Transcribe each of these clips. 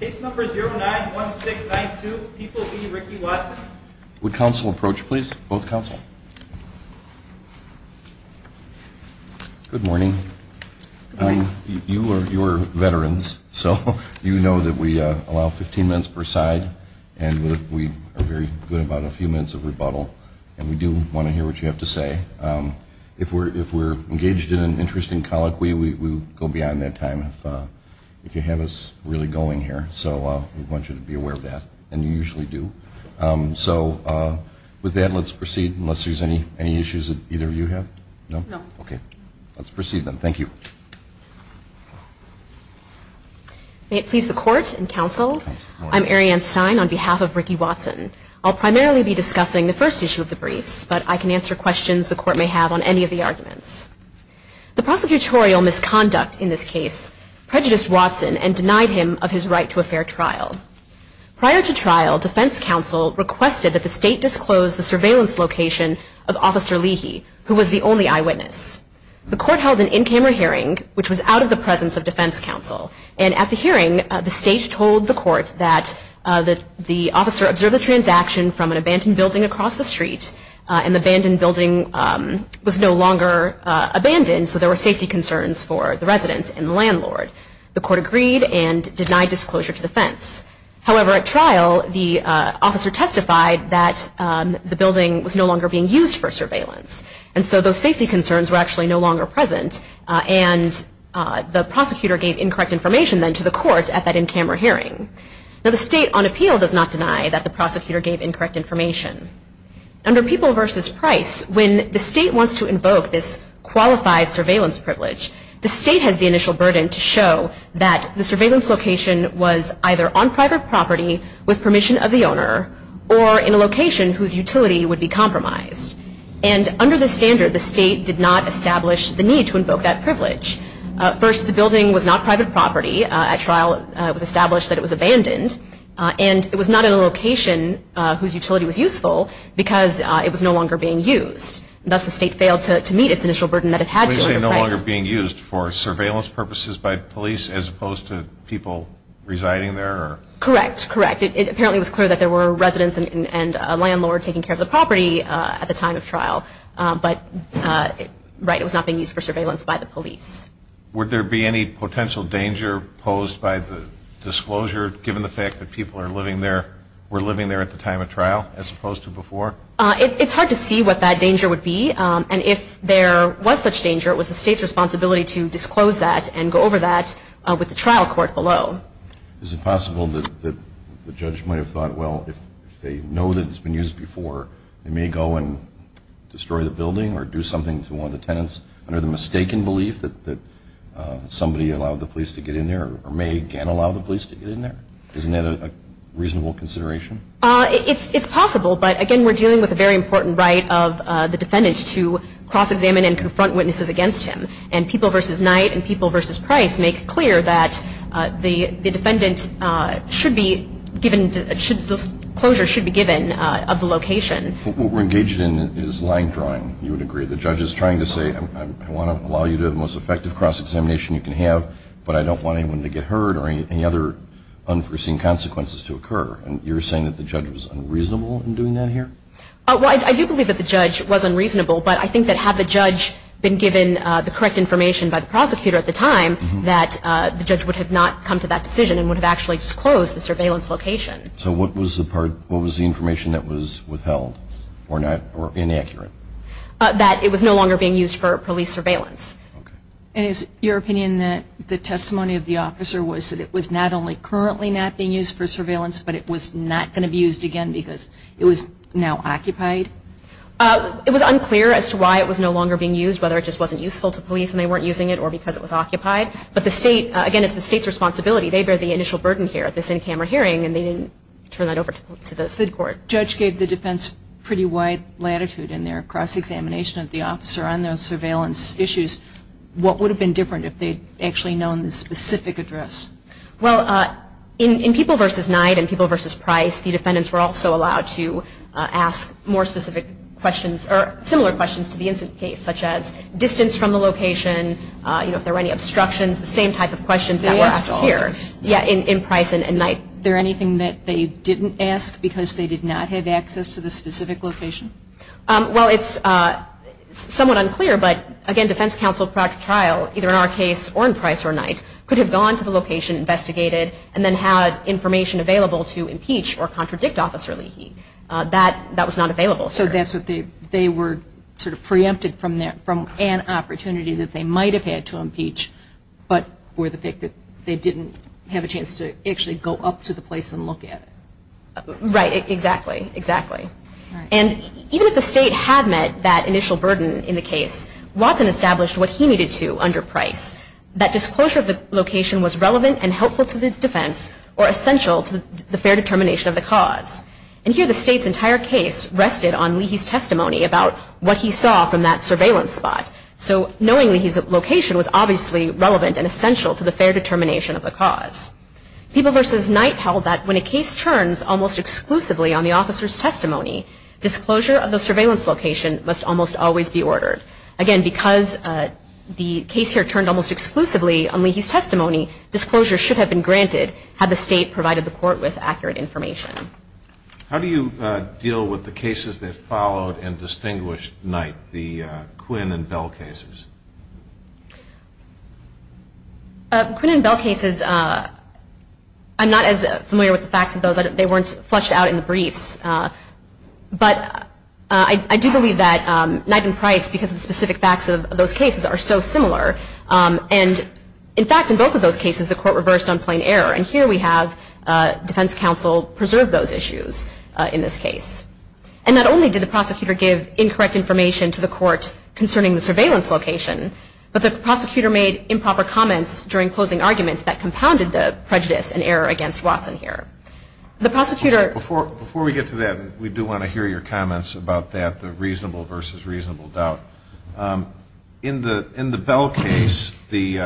Good morning. You are veterans, so you know that we allow 15 minutes per side, and we are very good about a few minutes of rebuttal, and we do want to hear what you have to say. If we are engaged in an interesting colloquy, we will go beyond that time if you have us really going here. So we want you to be aware of that, and you usually do. So with that, let's proceed unless there are any issues that either of you have. No? Okay. Let's proceed then. Thank you. Ariane Stein May it please the Court and Counsel, I'm Ariane Stein on behalf of Ricky Watson. I'll primarily be discussing the first issue of the briefs, but I can answer questions the Court may have on any of the arguments. The prosecutorial misconduct in this case prejudiced Watson and denied him of his right to a fair trial. Prior to trial, Defense Counsel requested that the State disclose the surveillance location of Officer Leahy, who was the only eyewitness. The Court held an in-camera hearing, which was out of the presence of Defense Counsel, and at the hearing, the State told the Court that the officer observed a transaction from an abandoned building across the street, and the abandoned building was no longer abandoned, so there were safety concerns for the residents and the landlord. The Court agreed and denied disclosure to Defense. However, at trial, the officer testified that the building was no longer being used for surveillance, and so those safety concerns were actually no longer present, and the prosecutor gave incorrect information then to the Court at that in-camera hearing. Now, the State, on appeal, does not deny that the prosecutor gave incorrect information. Under People v. Price, when the State wants to invoke this qualified surveillance privilege, the State has the initial burden to show that the surveillance location was either on private property with permission of the owner, or in a location whose utility would be compromised. And under this standard, the State did not establish the need to invoke that privilege. First, the building was not private property. At trial, it was established that it was abandoned, and it was not in a location whose utility was useful, because it was no longer being used. Thus, the State failed to meet its initial burden that it had to under Price. So you're saying it was no longer being used for surveillance purposes by police, as opposed to people residing there? Correct. Correct. It apparently was clear that there were residents and a landlord taking care of the property at the time of trial, but, right, it was not being used for surveillance by the police. Would there be any potential danger posed by the disclosure, given the fact that people are living there, were living there at the time of trial, as opposed to before? It's hard to see what that danger would be. And if there was such danger, it was the State's responsibility to disclose that and go over that with the trial court below. Is it possible that the judge might have thought, well, if they know that it's been used before, they may go and destroy the building or do something to one of the tenants under the mistaken belief that somebody allowed the police to get in there, or may again allow the police to get in there? Isn't that a reasonable consideration? It's possible, but, again, we're dealing with a very important right of the defendant to cross-examine and confront witnesses against him. And People v. Knight and People v. Price make clear that the defendant should be given, the closure should be given of the location. What we're engaged in is line drawing, you would agree. The judge is trying to say, I want to allow you to have the most effective cross-examination you can have, but I don't want anyone to get hurt or any other unforeseen consequences to occur. And you're saying that the judge was unreasonable in doing that here? Well, I do believe that the judge was unreasonable, but I think that had the judge been given the correct information by the prosecutor at the time, that the judge would have not come to that decision and would have actually disclosed the surveillance location. So what was the part, what was the information that was withheld, or inaccurate? That it was no longer being used for police surveillance. And is it your opinion that the testimony of the officer was that it was not only currently not being used for surveillance, but it was not going to be used again because it was now occupied? It was unclear as to why it was no longer being used, whether it just wasn't useful to police and they weren't using it, or because it was occupied. But the state, again, it's the state's responsibility. They bear the initial burden here at this in-camera hearing and they didn't turn that over to the state court. The judge gave the defense pretty wide latitude in their cross-examination of the officer on those surveillance issues. What would have been different if they'd actually known the specific address? Well, in People v. Knight and People v. Price, the defendants were also allowed to ask more specific questions, or similar questions to the incident case, such as distance from the location, if there were any obstructions, the same type of questions that were asked here in Price and Knight. Is there anything that they didn't ask because they did not have access to the specific location? Well, it's somewhat unclear, but again, defense counsel brought to trial, either in our case or in Price or Knight, could have gone to the location, investigated, and then had information available to impeach or contradict Officer Leahy. That was not available. So that's what they were sort of preempted from an opportunity that they might have had to impeach, but for the fact that they didn't have a chance to actually go up to the place and look at it. Right, exactly, exactly. And even if the state had met that initial burden in the case, Watson established what he needed to under Price. That disclosure of the location was relevant and helpful to the defense, or essential to the fair determination of the cause. And here the state's entire case rested on Leahy's testimony about what he saw from that obviously relevant and essential to the fair determination of the cause. People versus Knight held that when a case turns almost exclusively on the officer's testimony, disclosure of the surveillance location must almost always be ordered. Again, because the case here turned almost exclusively on Leahy's testimony, disclosure should have been granted had the state provided the court with accurate information. How do you deal with the cases that followed and distinguished Knight, the Quinn and Bell cases? The Quinn and Bell cases, I'm not as familiar with the facts of those. They weren't flushed out in the briefs. But I do believe that Knight and Price, because of the specific facts of those cases, are so similar. And in fact, in both of those cases, the court reversed on plain error. And here we have defense counsel preserve those issues in this case. And not only did the prosecutor give incorrect information to the court concerning the surveillance location, but the prosecutor made improper comments during closing arguments that compounded the prejudice and error against Watson here. The prosecutor – Before we get to that, we do want to hear your comments about that, the reasonable versus reasonable doubt. In the Bell case, the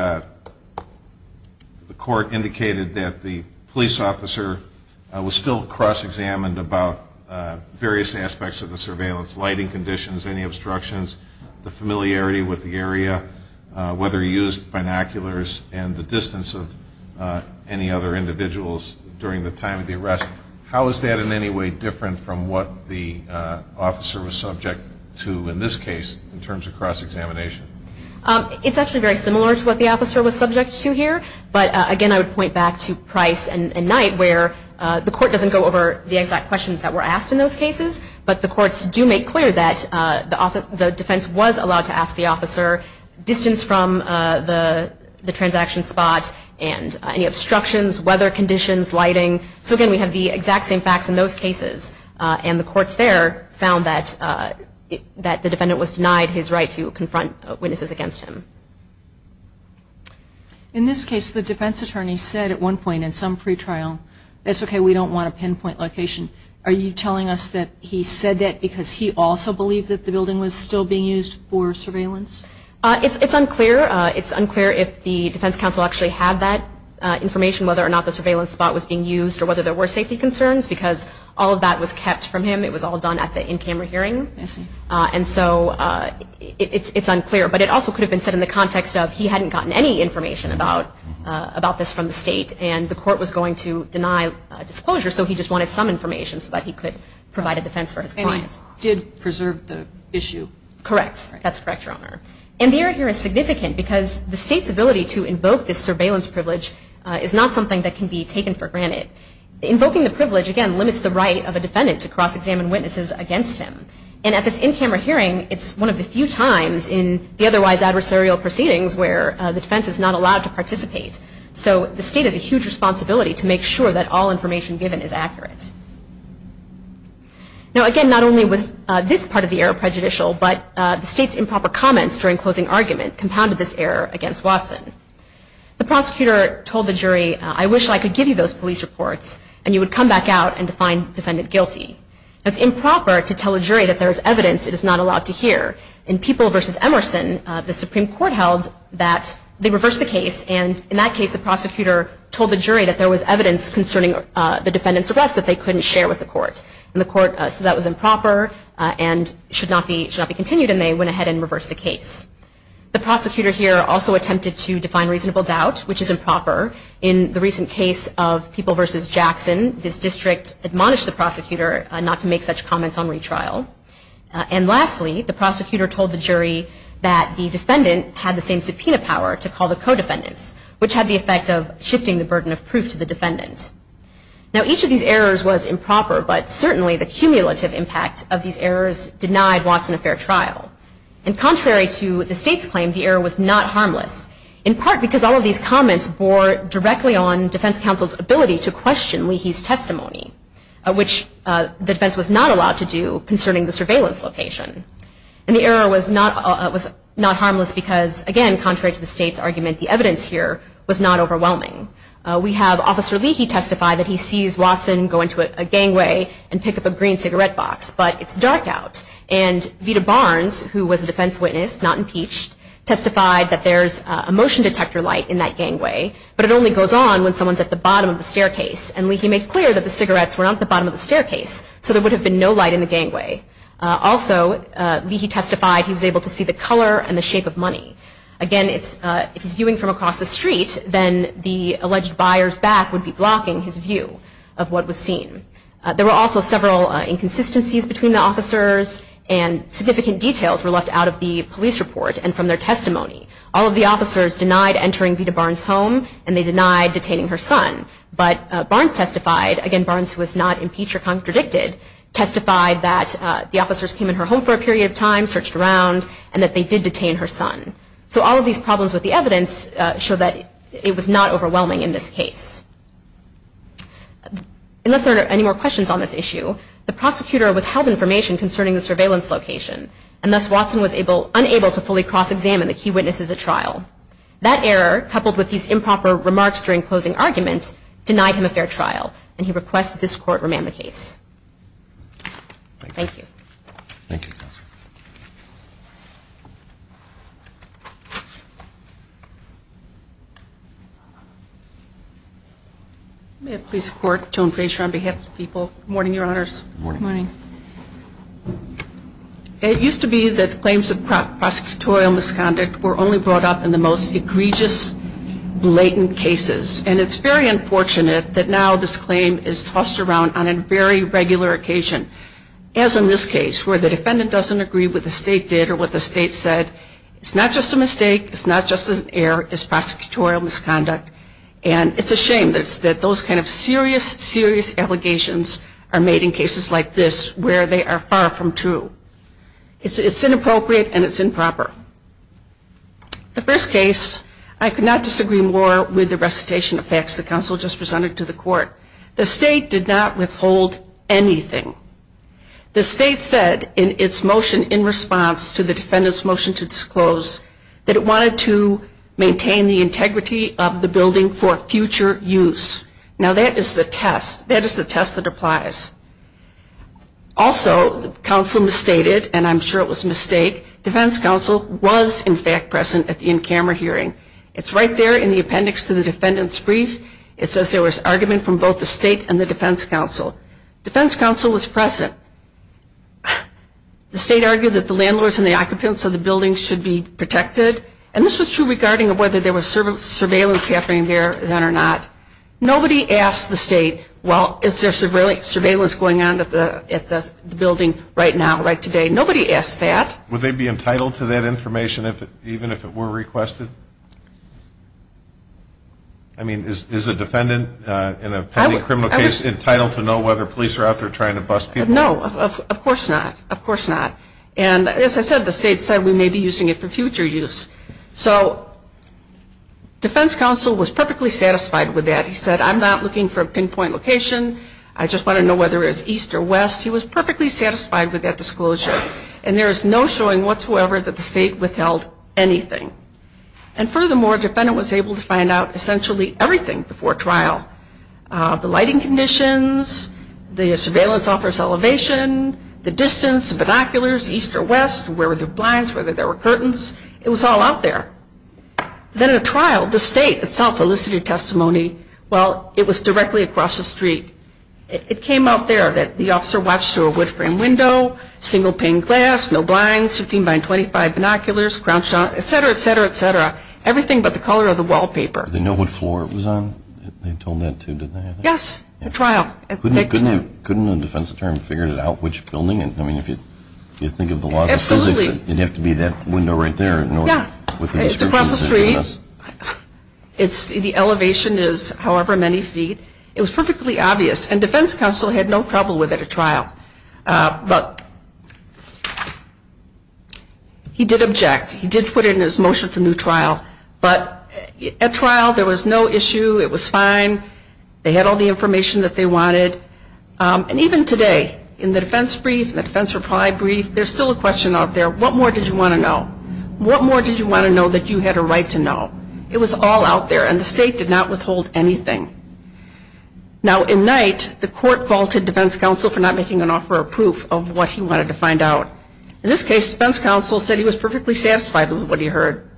court indicated that the police officer was still cross-examined about various aspects of the surveillance, lighting conditions, any obstructions, the familiarity with the area, whether he used binoculars, and the distance of any other individuals during the time of the arrest. How is that in any way different from what the officer was subject to in this case in terms of cross-examination? It's actually very similar to what the officer was subject to here. But again, I would point back to Price and Knight, where the court doesn't go over the exact questions that clear that the defense was allowed to ask the officer distance from the transaction spot and any obstructions, weather conditions, lighting. So again, we have the exact same facts in those cases. And the courts there found that the defendant was denied his right to confront witnesses against him. In this case, the defense attorney said at one point in some pretrial, it's okay, we said that because he also believed that the building was still being used for surveillance? It's unclear. It's unclear if the defense counsel actually had that information, whether or not the surveillance spot was being used, or whether there were safety concerns, because all of that was kept from him. It was all done at the in-camera hearing. And so it's unclear. But it also could have been said in the context of he hadn't gotten any information about this from the state, and the court was going to deny disclosure. So he just wanted some information so that he could provide a defense for his client. And he did preserve the issue? Correct. That's correct, Your Honor. And the error here is significant, because the state's ability to invoke this surveillance privilege is not something that can be taken for granted. Invoking the privilege, again, limits the right of a defendant to cross-examine witnesses against him. And at this in-camera hearing, it's one of the few times in the otherwise adversarial proceedings where the defense is not allowed to participate. So the state has a huge responsibility to make sure that all information given is accurate. Now, again, not only was this part of the error prejudicial, but the state's improper comments during closing argument compounded this error against Watson. The prosecutor told the jury, I wish I could give you those police reports, and you would come back out and find defendant guilty. It's improper to tell a jury that there is evidence it is not allowed to hear. In People v. Emerson, the Supreme Court held that they reversed the case. The prosecutor told the jury that there was evidence concerning the defendant's arrest that they couldn't share with the court. And the court said that was improper and should not be continued, and they went ahead and reversed the case. The prosecutor here also attempted to define reasonable doubt, which is improper. In the recent case of People v. Jackson, this district admonished the prosecutor not to make such comments on retrial. And lastly, the prosecutor told the jury that the defendant had the same subpoena power to call the co-defendants, which had the effect of shifting the burden of proof to the defendant. Now, each of these errors was improper, but certainly the cumulative impact of these errors denied Watson a fair trial. And contrary to the state's claim, the error was not harmless, in part because all of these comments bore directly on defense counsel's ability to question Leahy's testimony, which the defense was not allowed to do concerning the surveillance location. And the error was not harmless because, again, contrary to the state's argument, the evidence here was not overwhelming. We have Officer Leahy testify that he sees Watson go into a gangway and pick up a green cigarette box, but it's dark out. And Vita Barnes, who was a defense witness, not impeached, testified that there's a motion detector light in that gangway, but it only goes on when someone's at the bottom of the staircase. And Leahy made clear that the cigarettes were not at the bottom of the staircase, so there would have been no light in the gangway. Also, Leahy testified he was able to see the If he's viewing from across the street, then the alleged buyer's back would be blocking his view of what was seen. There were also several inconsistencies between the officers, and significant details were left out of the police report and from their testimony. All of the officers denied entering Vita Barnes' home, and they denied detaining her son. But Barnes testified, again, Barnes was not impeached or contradicted, testified that the officers came in her home for a period of time, searched around, and that they did detain her son. So all of these problems with the evidence show that it was not overwhelming in this case. Unless there are any more questions on this issue, the prosecutor withheld information concerning the surveillance location, and thus Watson was unable to fully cross-examine the key witnesses at trial. That error, coupled with these improper remarks during closing argument, denied him a fair trial, and he requests that this court remand the case. Thank you. Thank you, Counsel. May it please the Court, Joan Frazier on behalf of the people. Good morning, Your Honors. Good morning. Good morning. It used to be that claims of prosecutorial misconduct were only brought up in the most egregious, blatant cases, and it's very unfortunate that now this claim is tossed around on a very regular occasion, as in this case, where the defendant doesn't agree with what the state did or what the state said. It's not just a mistake, it's not just an error, it's prosecutorial misconduct, and it's a shame that those kind of serious, serious allegations are made in cases like this where they are far from true. It's inappropriate and it's improper. The first case, I could not disagree more with the recitation of facts the Counsel just presented to the Court. The state did not withhold anything. The state said in its motion in response to the defendant's motion to disclose that it wanted to maintain the integrity of the building for future use. Now, that is the test. That is the test that applies. Also, the Counsel misstated, and I'm sure it was a mistake, Defense Counsel was in fact present at the in-camera hearing. It's right there in the appendix to the defendant's brief. It says there was argument from both the state and the Defense Counsel. Defense Counsel was present. The state argued that the landlords and the occupants of the building should be protected, and this was true regarding whether there was surveillance happening there or not. Nobody asked the state, well, is there surveillance going on at the building right now, right today? Nobody asked that. Would they be entitled to that information even if it were requested? I mean, is a defendant in a pending criminal case entitled to know whether police are out there trying to bust people? No, of course not. Of course not. And as I said, the state said we may be using it for future use. So Defense Counsel was perfectly satisfied with that. He said, I'm not looking for a pinpoint location. I just want to know whether it's east or west. He was perfectly satisfied with that. There was no showing whatsoever that the state withheld anything. And furthermore, the defendant was able to find out essentially everything before trial. The lighting conditions, the surveillance officer's elevation, the distance, binoculars, east or west, where were the blinds, whether there were curtains. It was all out there. Then at a trial, the state itself elicited testimony while it was directly across the street. It came out there that the officer watched through a wood frame window, single pane glass, no blinds, 15 by 25 binoculars, etc., etc., etc. Everything but the color of the wallpaper. Did they know what floor it was on? They told them that too, didn't they? Yes, at trial. Couldn't a defense attorney figure out which building? I mean, if you think of the laws of physics, it'd have to be that window right there in order with the description. Yeah, it's across the street. The elevation is however many feet. It was perfectly obvious. And defense counsel had no trouble with it at trial. But he did object. He did put it in his motion for new trial. But at trial, there was no issue. It was fine. They had all the information that they wanted. And even today, in the defense brief, the defense reply brief, there's still a question out there. What more did you want to know? What more did you want to know that you had a right to know? It was all out there. And the state did not withhold anything. Now, in night, the court vaulted defense counsel for not making an offer of proof of what he wanted to find out. In this case, defense counsel said he was perfectly satisfied with what he heard.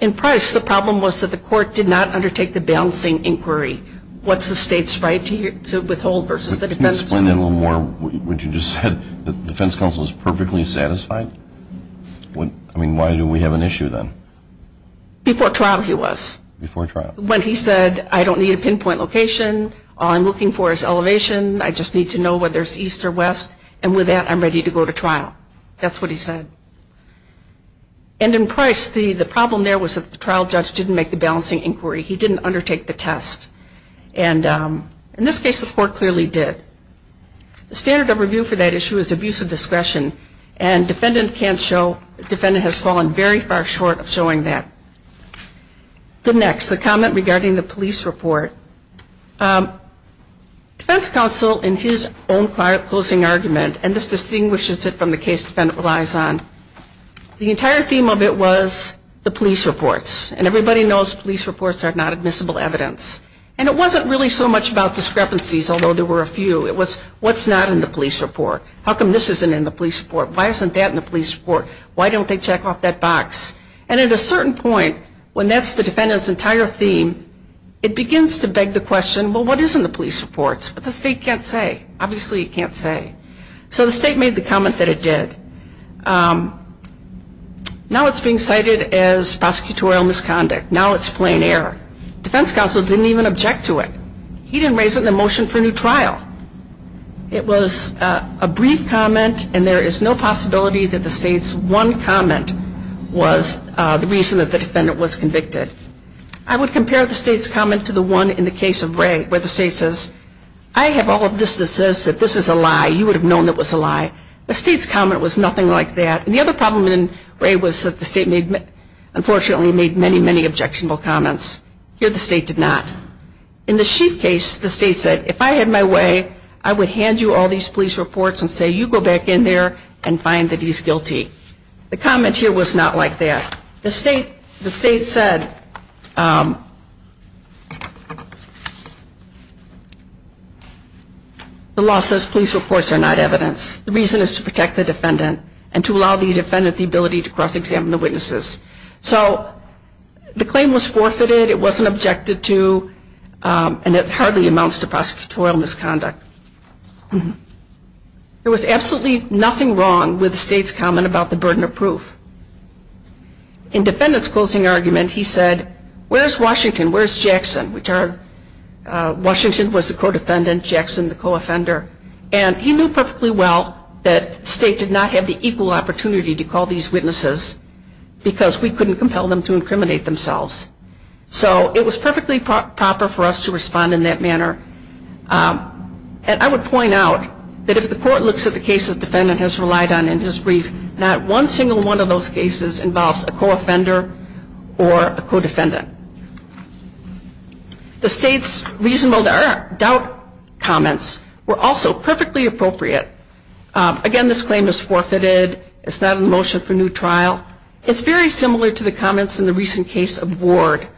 In price, the problem was that the court did not undertake the balancing inquiry. What's the state's right to withhold versus the defense's right? Can you explain that a little more? What you just said, the defense counsel is perfectly satisfied? I mean, why do we have an issue then? Before trial, he was. Before trial. When he said, I don't need a pinpoint location. All I'm looking for is elevation. I just need to know whether it's east or west. And with that, I'm ready to go to trial. That's what he said. And in price, the problem there was that the trial judge didn't make the balancing inquiry. He didn't undertake the test. And in this case, the court clearly did. The standard of review for that issue is abuse of discretion. And defendant can't show. Defendant has fallen very far short of showing that. The next, the comment regarding the police report. Defense counsel, in his own closing argument, and this distinguishes it from the case defendant relies on, the entire theme of it was the police reports. And everybody knows police reports are not admissible evidence. And it wasn't really so much about discrepancies, although there were a few. It was, what's not in the police report? How come this isn't in the police report? Why isn't that in the box? And at a certain point, when that's the defendant's entire theme, it begins to beg the question, well, what is in the police reports? But the state can't say. Obviously it can't say. So the state made the comment that it did. Now it's being cited as prosecutorial misconduct. Now it's plain error. Defense counsel didn't even object to it. He didn't raise it in the motion for new trial. It was a brief comment and there is no possibility that the state's one comment was the reason that the defendant was convicted. I would compare the state's comment to the one in the case of Ray, where the state says, I have all of this that says that this is a lie. You would have known it was a lie. The state's comment was nothing like that. And the other problem in Ray was that the state made, unfortunately, made many, many objectionable comments. Here the state did not. In the Sheaf case, the state said, if I had my way, I would hand you all these police reports and say, you go back in there and find that he's guilty. The comment here was not like that. The state said, the law says police reports are not evidence. The reason is to protect the defendant and to allow the defendant the ability to cross-examine the witnesses. So the claim was forfeited. It wasn't objected to. And it hardly amounts to prosecutorial misconduct. There was absolutely nothing wrong with the state's comment about the burden of proof. In the defendant's closing argument, he said, where is Washington? Where is Jackson? Washington was the co-defendant, Jackson the co-offender. And he knew perfectly well that the state did not have the equal opportunity to call these witnesses because we couldn't compel them to incriminate themselves. So it was perfectly proper for us to respond in that manner. And I would point out that if the court looks at the cases the defendant has relied on in his brief, not one single one of those cases involves a co-offender or a co-defendant. The state's reasonable doubt comments were also perfectly appropriate. Again, this claim is forfeited. It's not a motion for new trial. It's very similar to the comments in the recent case of Ward,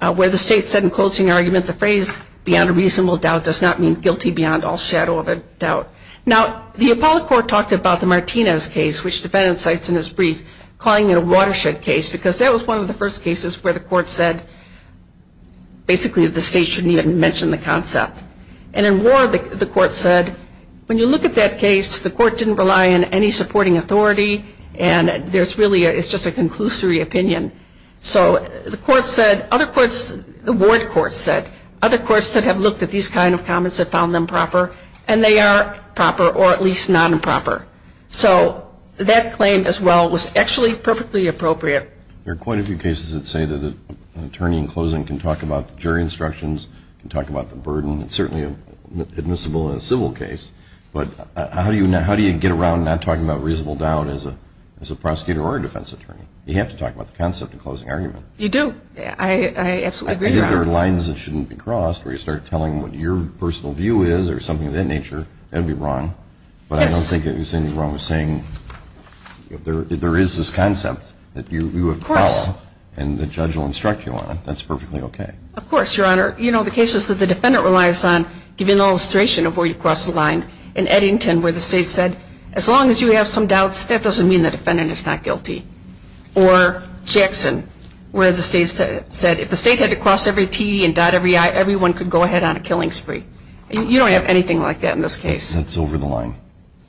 where the state said in closing argument the phrase beyond a reasonable doubt does not mean guilty beyond all shadow of a doubt. Now, the Apollo Court talked about the Martinez case, which the defendant cites in his brief, calling it a watershed case, because that was one of the first cases where the court said basically the state shouldn't even mention the concept. And in Ward, the court said when you look at that case, the court didn't rely on any supporting authority. And there's really a, it's just a conclusory opinion. So the court said, other courts, the Ward court said, other courts that have looked at these kind of comments have found them proper. And they are proper, or at least non-proper. So that claim as well was actually perfectly appropriate. There are quite a few cases that say that an attorney in closing can talk about the jury instructions, can talk about the burden. It's certainly admissible in a civil case. But how do you get around not talking about reasonable doubt as a prosecutor or a defense attorney? You have to talk about the concept of closing argument. You do. I absolutely agree, Your Honor. I think there are lines that shouldn't be crossed where you start telling them what your personal view is or something of that nature. That would be wrong. Yes. But I don't think there's anything wrong with saying there is this concept that you have power and the judge will instruct you on it. That's perfectly okay. Of course, Your Honor. You know, the cases that the defendant relies on give you an illustration of where you cross the line. In Eddington, where the state said, as long as you have some doubts, that doesn't mean the defendant is not guilty. Or Jackson, where the state said if the state had to cross every T and dot every I, everyone could go ahead on a killing spree. You don't have anything like that in this case. It's over the line.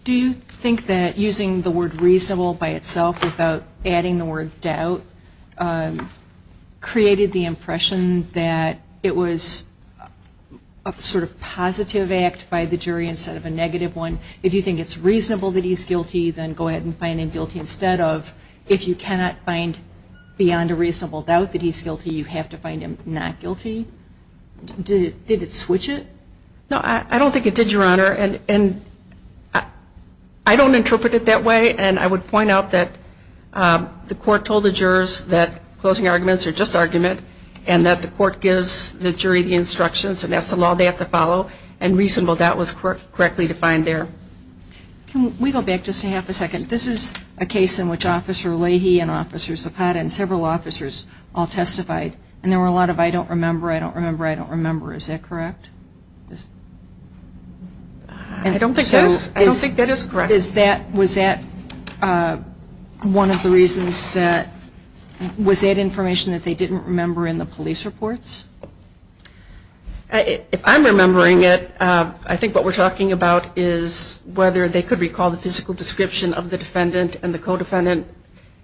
Do you think that using the word reasonable by itself without adding the word doubt created the impression that it was a sort of positive act by the jury instead of a negative one? If you think it's reasonable that he's guilty, then go ahead and find him guilty instead of if you cannot find beyond a reasonable doubt that he's guilty, you have to find him not guilty? Did it switch it? No, I don't think it did, Your Honor. And I don't interpret it that way. And I would that the court gives the jury the instructions and that's the law they have to follow and reasonable doubt was correctly defined there. Can we go back just a half a second? This is a case in which Officer Leahy and Officer Zapata and several officers all testified and there were a lot of I don't remember, I don't remember, I don't remember. Is that correct? I don't think that is correct. Was that one of the reasons that, was that information that they didn't remember in the police reports? If I'm remembering it, I think what we're talking about is whether they could recall the physical description of the defendant and the co-defendant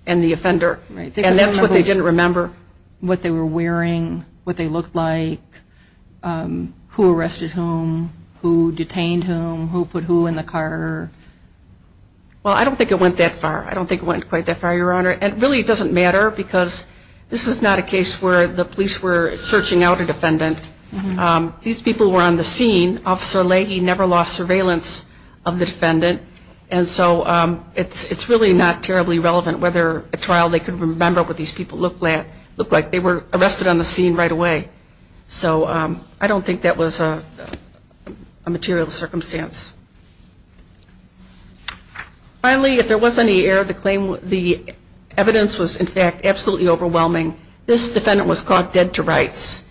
and the offender and that's what they didn't remember. What they were wearing, what they looked like, who arrested whom, who detained whom, who arrested who in the car? Well, I don't think it went that far. I don't think it went quite that far, Your Honor. And really it doesn't matter because this is not a case where the police were searching out a defendant. These people were on the scene. Officer Leahy never lost surveillance of the defendant and so it's really not terribly relevant whether a trial they could remember what these people looked like. They were arrested on the scene right away. So I don't think that was a material circumstance. Finally, if there was any error of the claim, the evidence was in fact absolutely overwhelming. This defendant was caught dead to rights.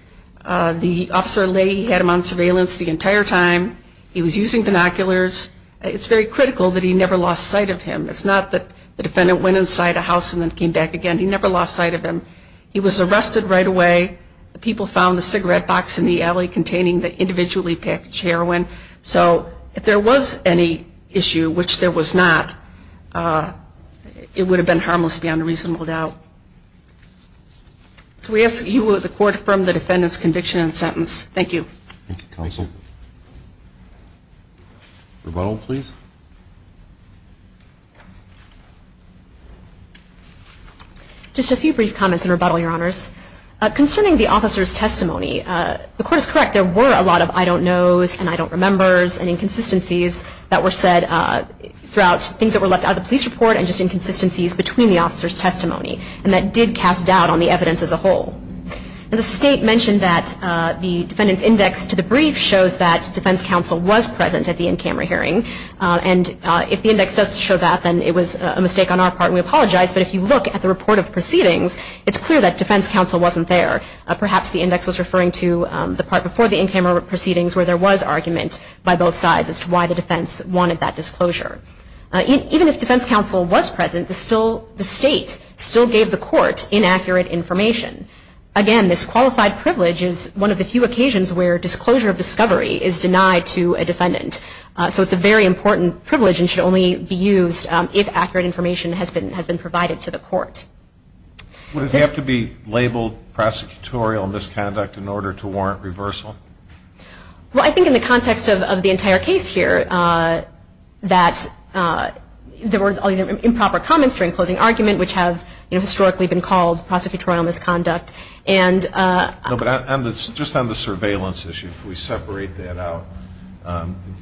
The officer Leahy had him on surveillance the entire time. He was using binoculars. It's very critical that he never lost sight of him. It's not that the defendant went inside a house and then came back again. He never lost sight of him. He was arrested right away. The people found the cigarette box in the building. They individually packaged heroin. So if there was any issue, which there was not, it would have been harmless beyond a reasonable doubt. So we ask that the Court affirm the defendant's conviction and sentence. Thank you. Thank you, Counsel. Rebuttal, please. Just a few brief comments in rebuttal, Your Honors. Concerning the officer's testimony, the Court is correct. There were a lot of I don't knows and I don't remembers and inconsistencies that were said throughout things that were left out of the police report and just inconsistencies between the officer's testimony. And that did cast doubt on the evidence as a whole. The State mentioned that the defendant's index to the brief shows that defense counsel was present at the in-camera hearing. And if the index does show that, then it was a mistake on our part and we apologize. But if you look at the report of proceedings, it's clear that to the part before the in-camera proceedings where there was argument by both sides as to why the defense wanted that disclosure. Even if defense counsel was present, the State still gave the Court inaccurate information. Again, this qualified privilege is one of the few occasions where disclosure of discovery is denied to a defendant. So it's a very important privilege and should only be used if accurate information has been provided to the Court. Would it have to be labeled prosecutorial misconduct in order to warrant reversal? Well, I think in the context of the entire case here that there were all these improper comments during closing argument which have historically been called prosecutorial misconduct. No, but just on the surveillance issue, if we separate that out,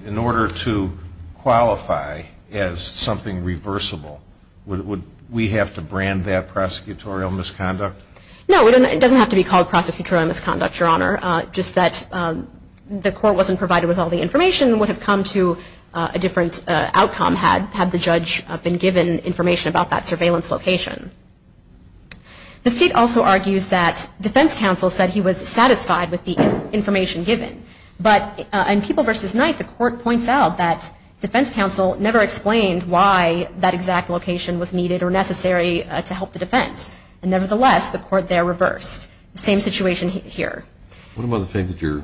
in order to qualify as something reversible, would we have to brand that prosecutorial misconduct? No, it doesn't have to be called prosecutorial misconduct, Your Honor. Just that the Court wasn't provided with all the information would have come to a different outcome had the judge been given information about that surveillance location. The State also argues that defense counsel said he was satisfied with the information given. But in People v. Knight, the Court points out that defense counsel never explained why that exact location was needed or necessary to help the defense. Nevertheless, the Court there reversed. The same situation here. What about the fact that your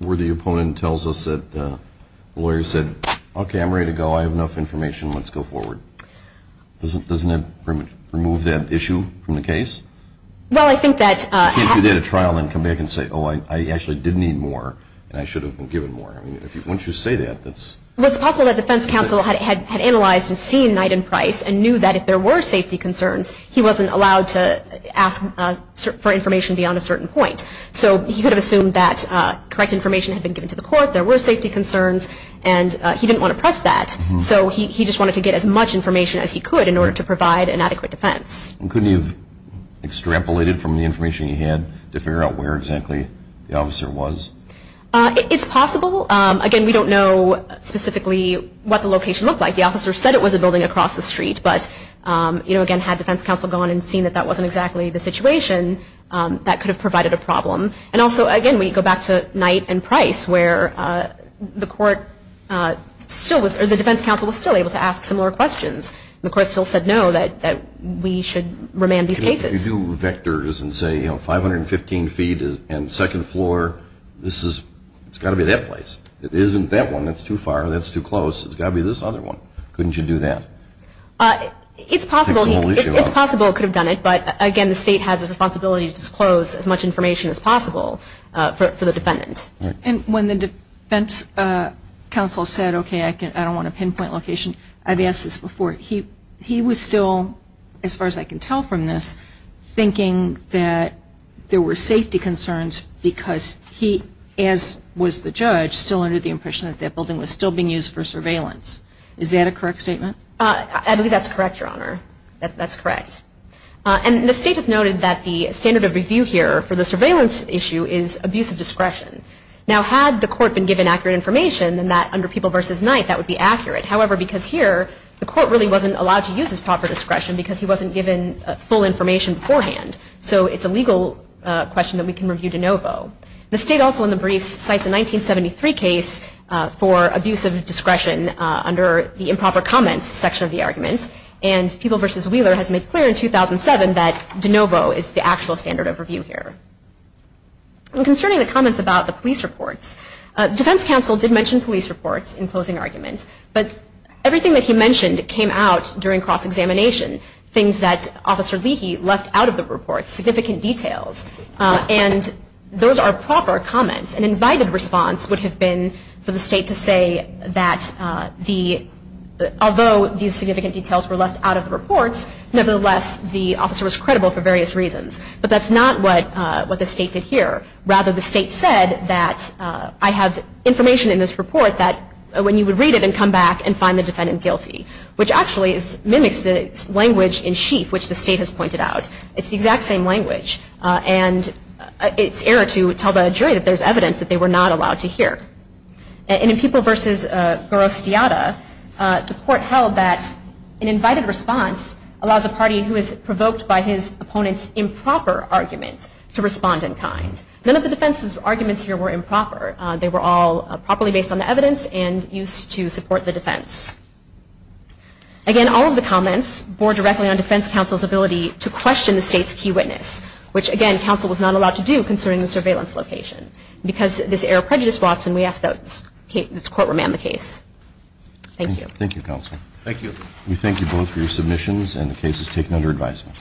worthy opponent tells us that the lawyer said, okay, I'm ready to go. I have enough information. Let's go forward. Doesn't that remove that issue from the case? Well, I think that... You can't do data trial and come back and say, oh, I actually did need more and I should have been given more. I mean, once you say that, that's... Well, it's possible that defense counsel had analyzed and seen Knight and Price and knew that if there were safety concerns, he wasn't allowed to ask for information beyond a certain point. So he could have assumed that correct information had been given to the Court, there were safety concerns, and he didn't want to press that. So he just wanted to get as much information as he could in order to provide an adequate defense. And couldn't you have extrapolated from the information you had to figure out where exactly the officer was? It's possible. Again, we don't know specifically what the location looked like. The officer said it was a building across the street. But, you know, again, had defense counsel gone and seen that that wasn't exactly the situation, that could have provided a problem. And also, again, we go back to Knight and Price where the defense counsel was still able to ask similar questions. The Court still said no, that we should remand these cases. If you do vectors and say, you know, 515 feet and second floor, this is, it's got to be that place. It isn't that one, that's too far, that's too close. It's got to be this other one. Couldn't you do that? It's possible. It's possible he could have done it. But, again, the State has a responsibility to disclose as much information as possible for the defendant. And when the defense counsel said, okay, I don't want a pinpoint location, I've asked this before. He was still, as far as I can tell from this, thinking that there were safety concerns because he, as was the judge, still under the impression that that building was still being used for surveillance. Is that a correct statement? I believe that's correct, Your Honor. That's correct. And the State has noted that the standard of review here for the surveillance issue is abuse of discretion. Now, had the Court been given accurate information, then that, under People v. Knight, that would be accurate. However, because here, the Court really wasn't allowed to use his proper discretion because he wasn't given full information beforehand. So it's a legal question that we can review de novo. The State also, in the briefs, cites a 1973 case for abuse of discretion under the improper comments section of the argument. And People v. Wheeler has made clear in 2007 that de novo is not a standard of review here. Concerning the comments about the police reports, the Defense Counsel did mention police reports in closing argument. But everything that he mentioned came out during cross-examination, things that Officer Leahy left out of the reports, significant details. And those are proper comments. An invited response would have been for the State to say that, although these significant details were left out of the reports, nevertheless, the officer was That's not what the State did here. Rather, the State said that, I have information in this report that when you would read it and come back and find the defendant guilty, which actually mimics the language in sheaf, which the State has pointed out. It's the exact same language. And it's error to tell the jury that there's evidence that they were not allowed to hear. And in People v. Garosteata, the Court held that an invited response allows a party who is provoked by his opponent's improper argument to respond in kind. None of the defense's arguments here were improper. They were all properly based on the evidence and used to support the defense. Again, all of the comments bore directly on Defense Counsel's ability to question the State's key witness, which, again, Counsel was not allowed to do concerning the surveillance location. Because this error prejudiced Watson, we ask that this Court remand the case. Thank you. Thank you, Counsel. Thank you. We thank you both for your submissions and the cases taken under advisement.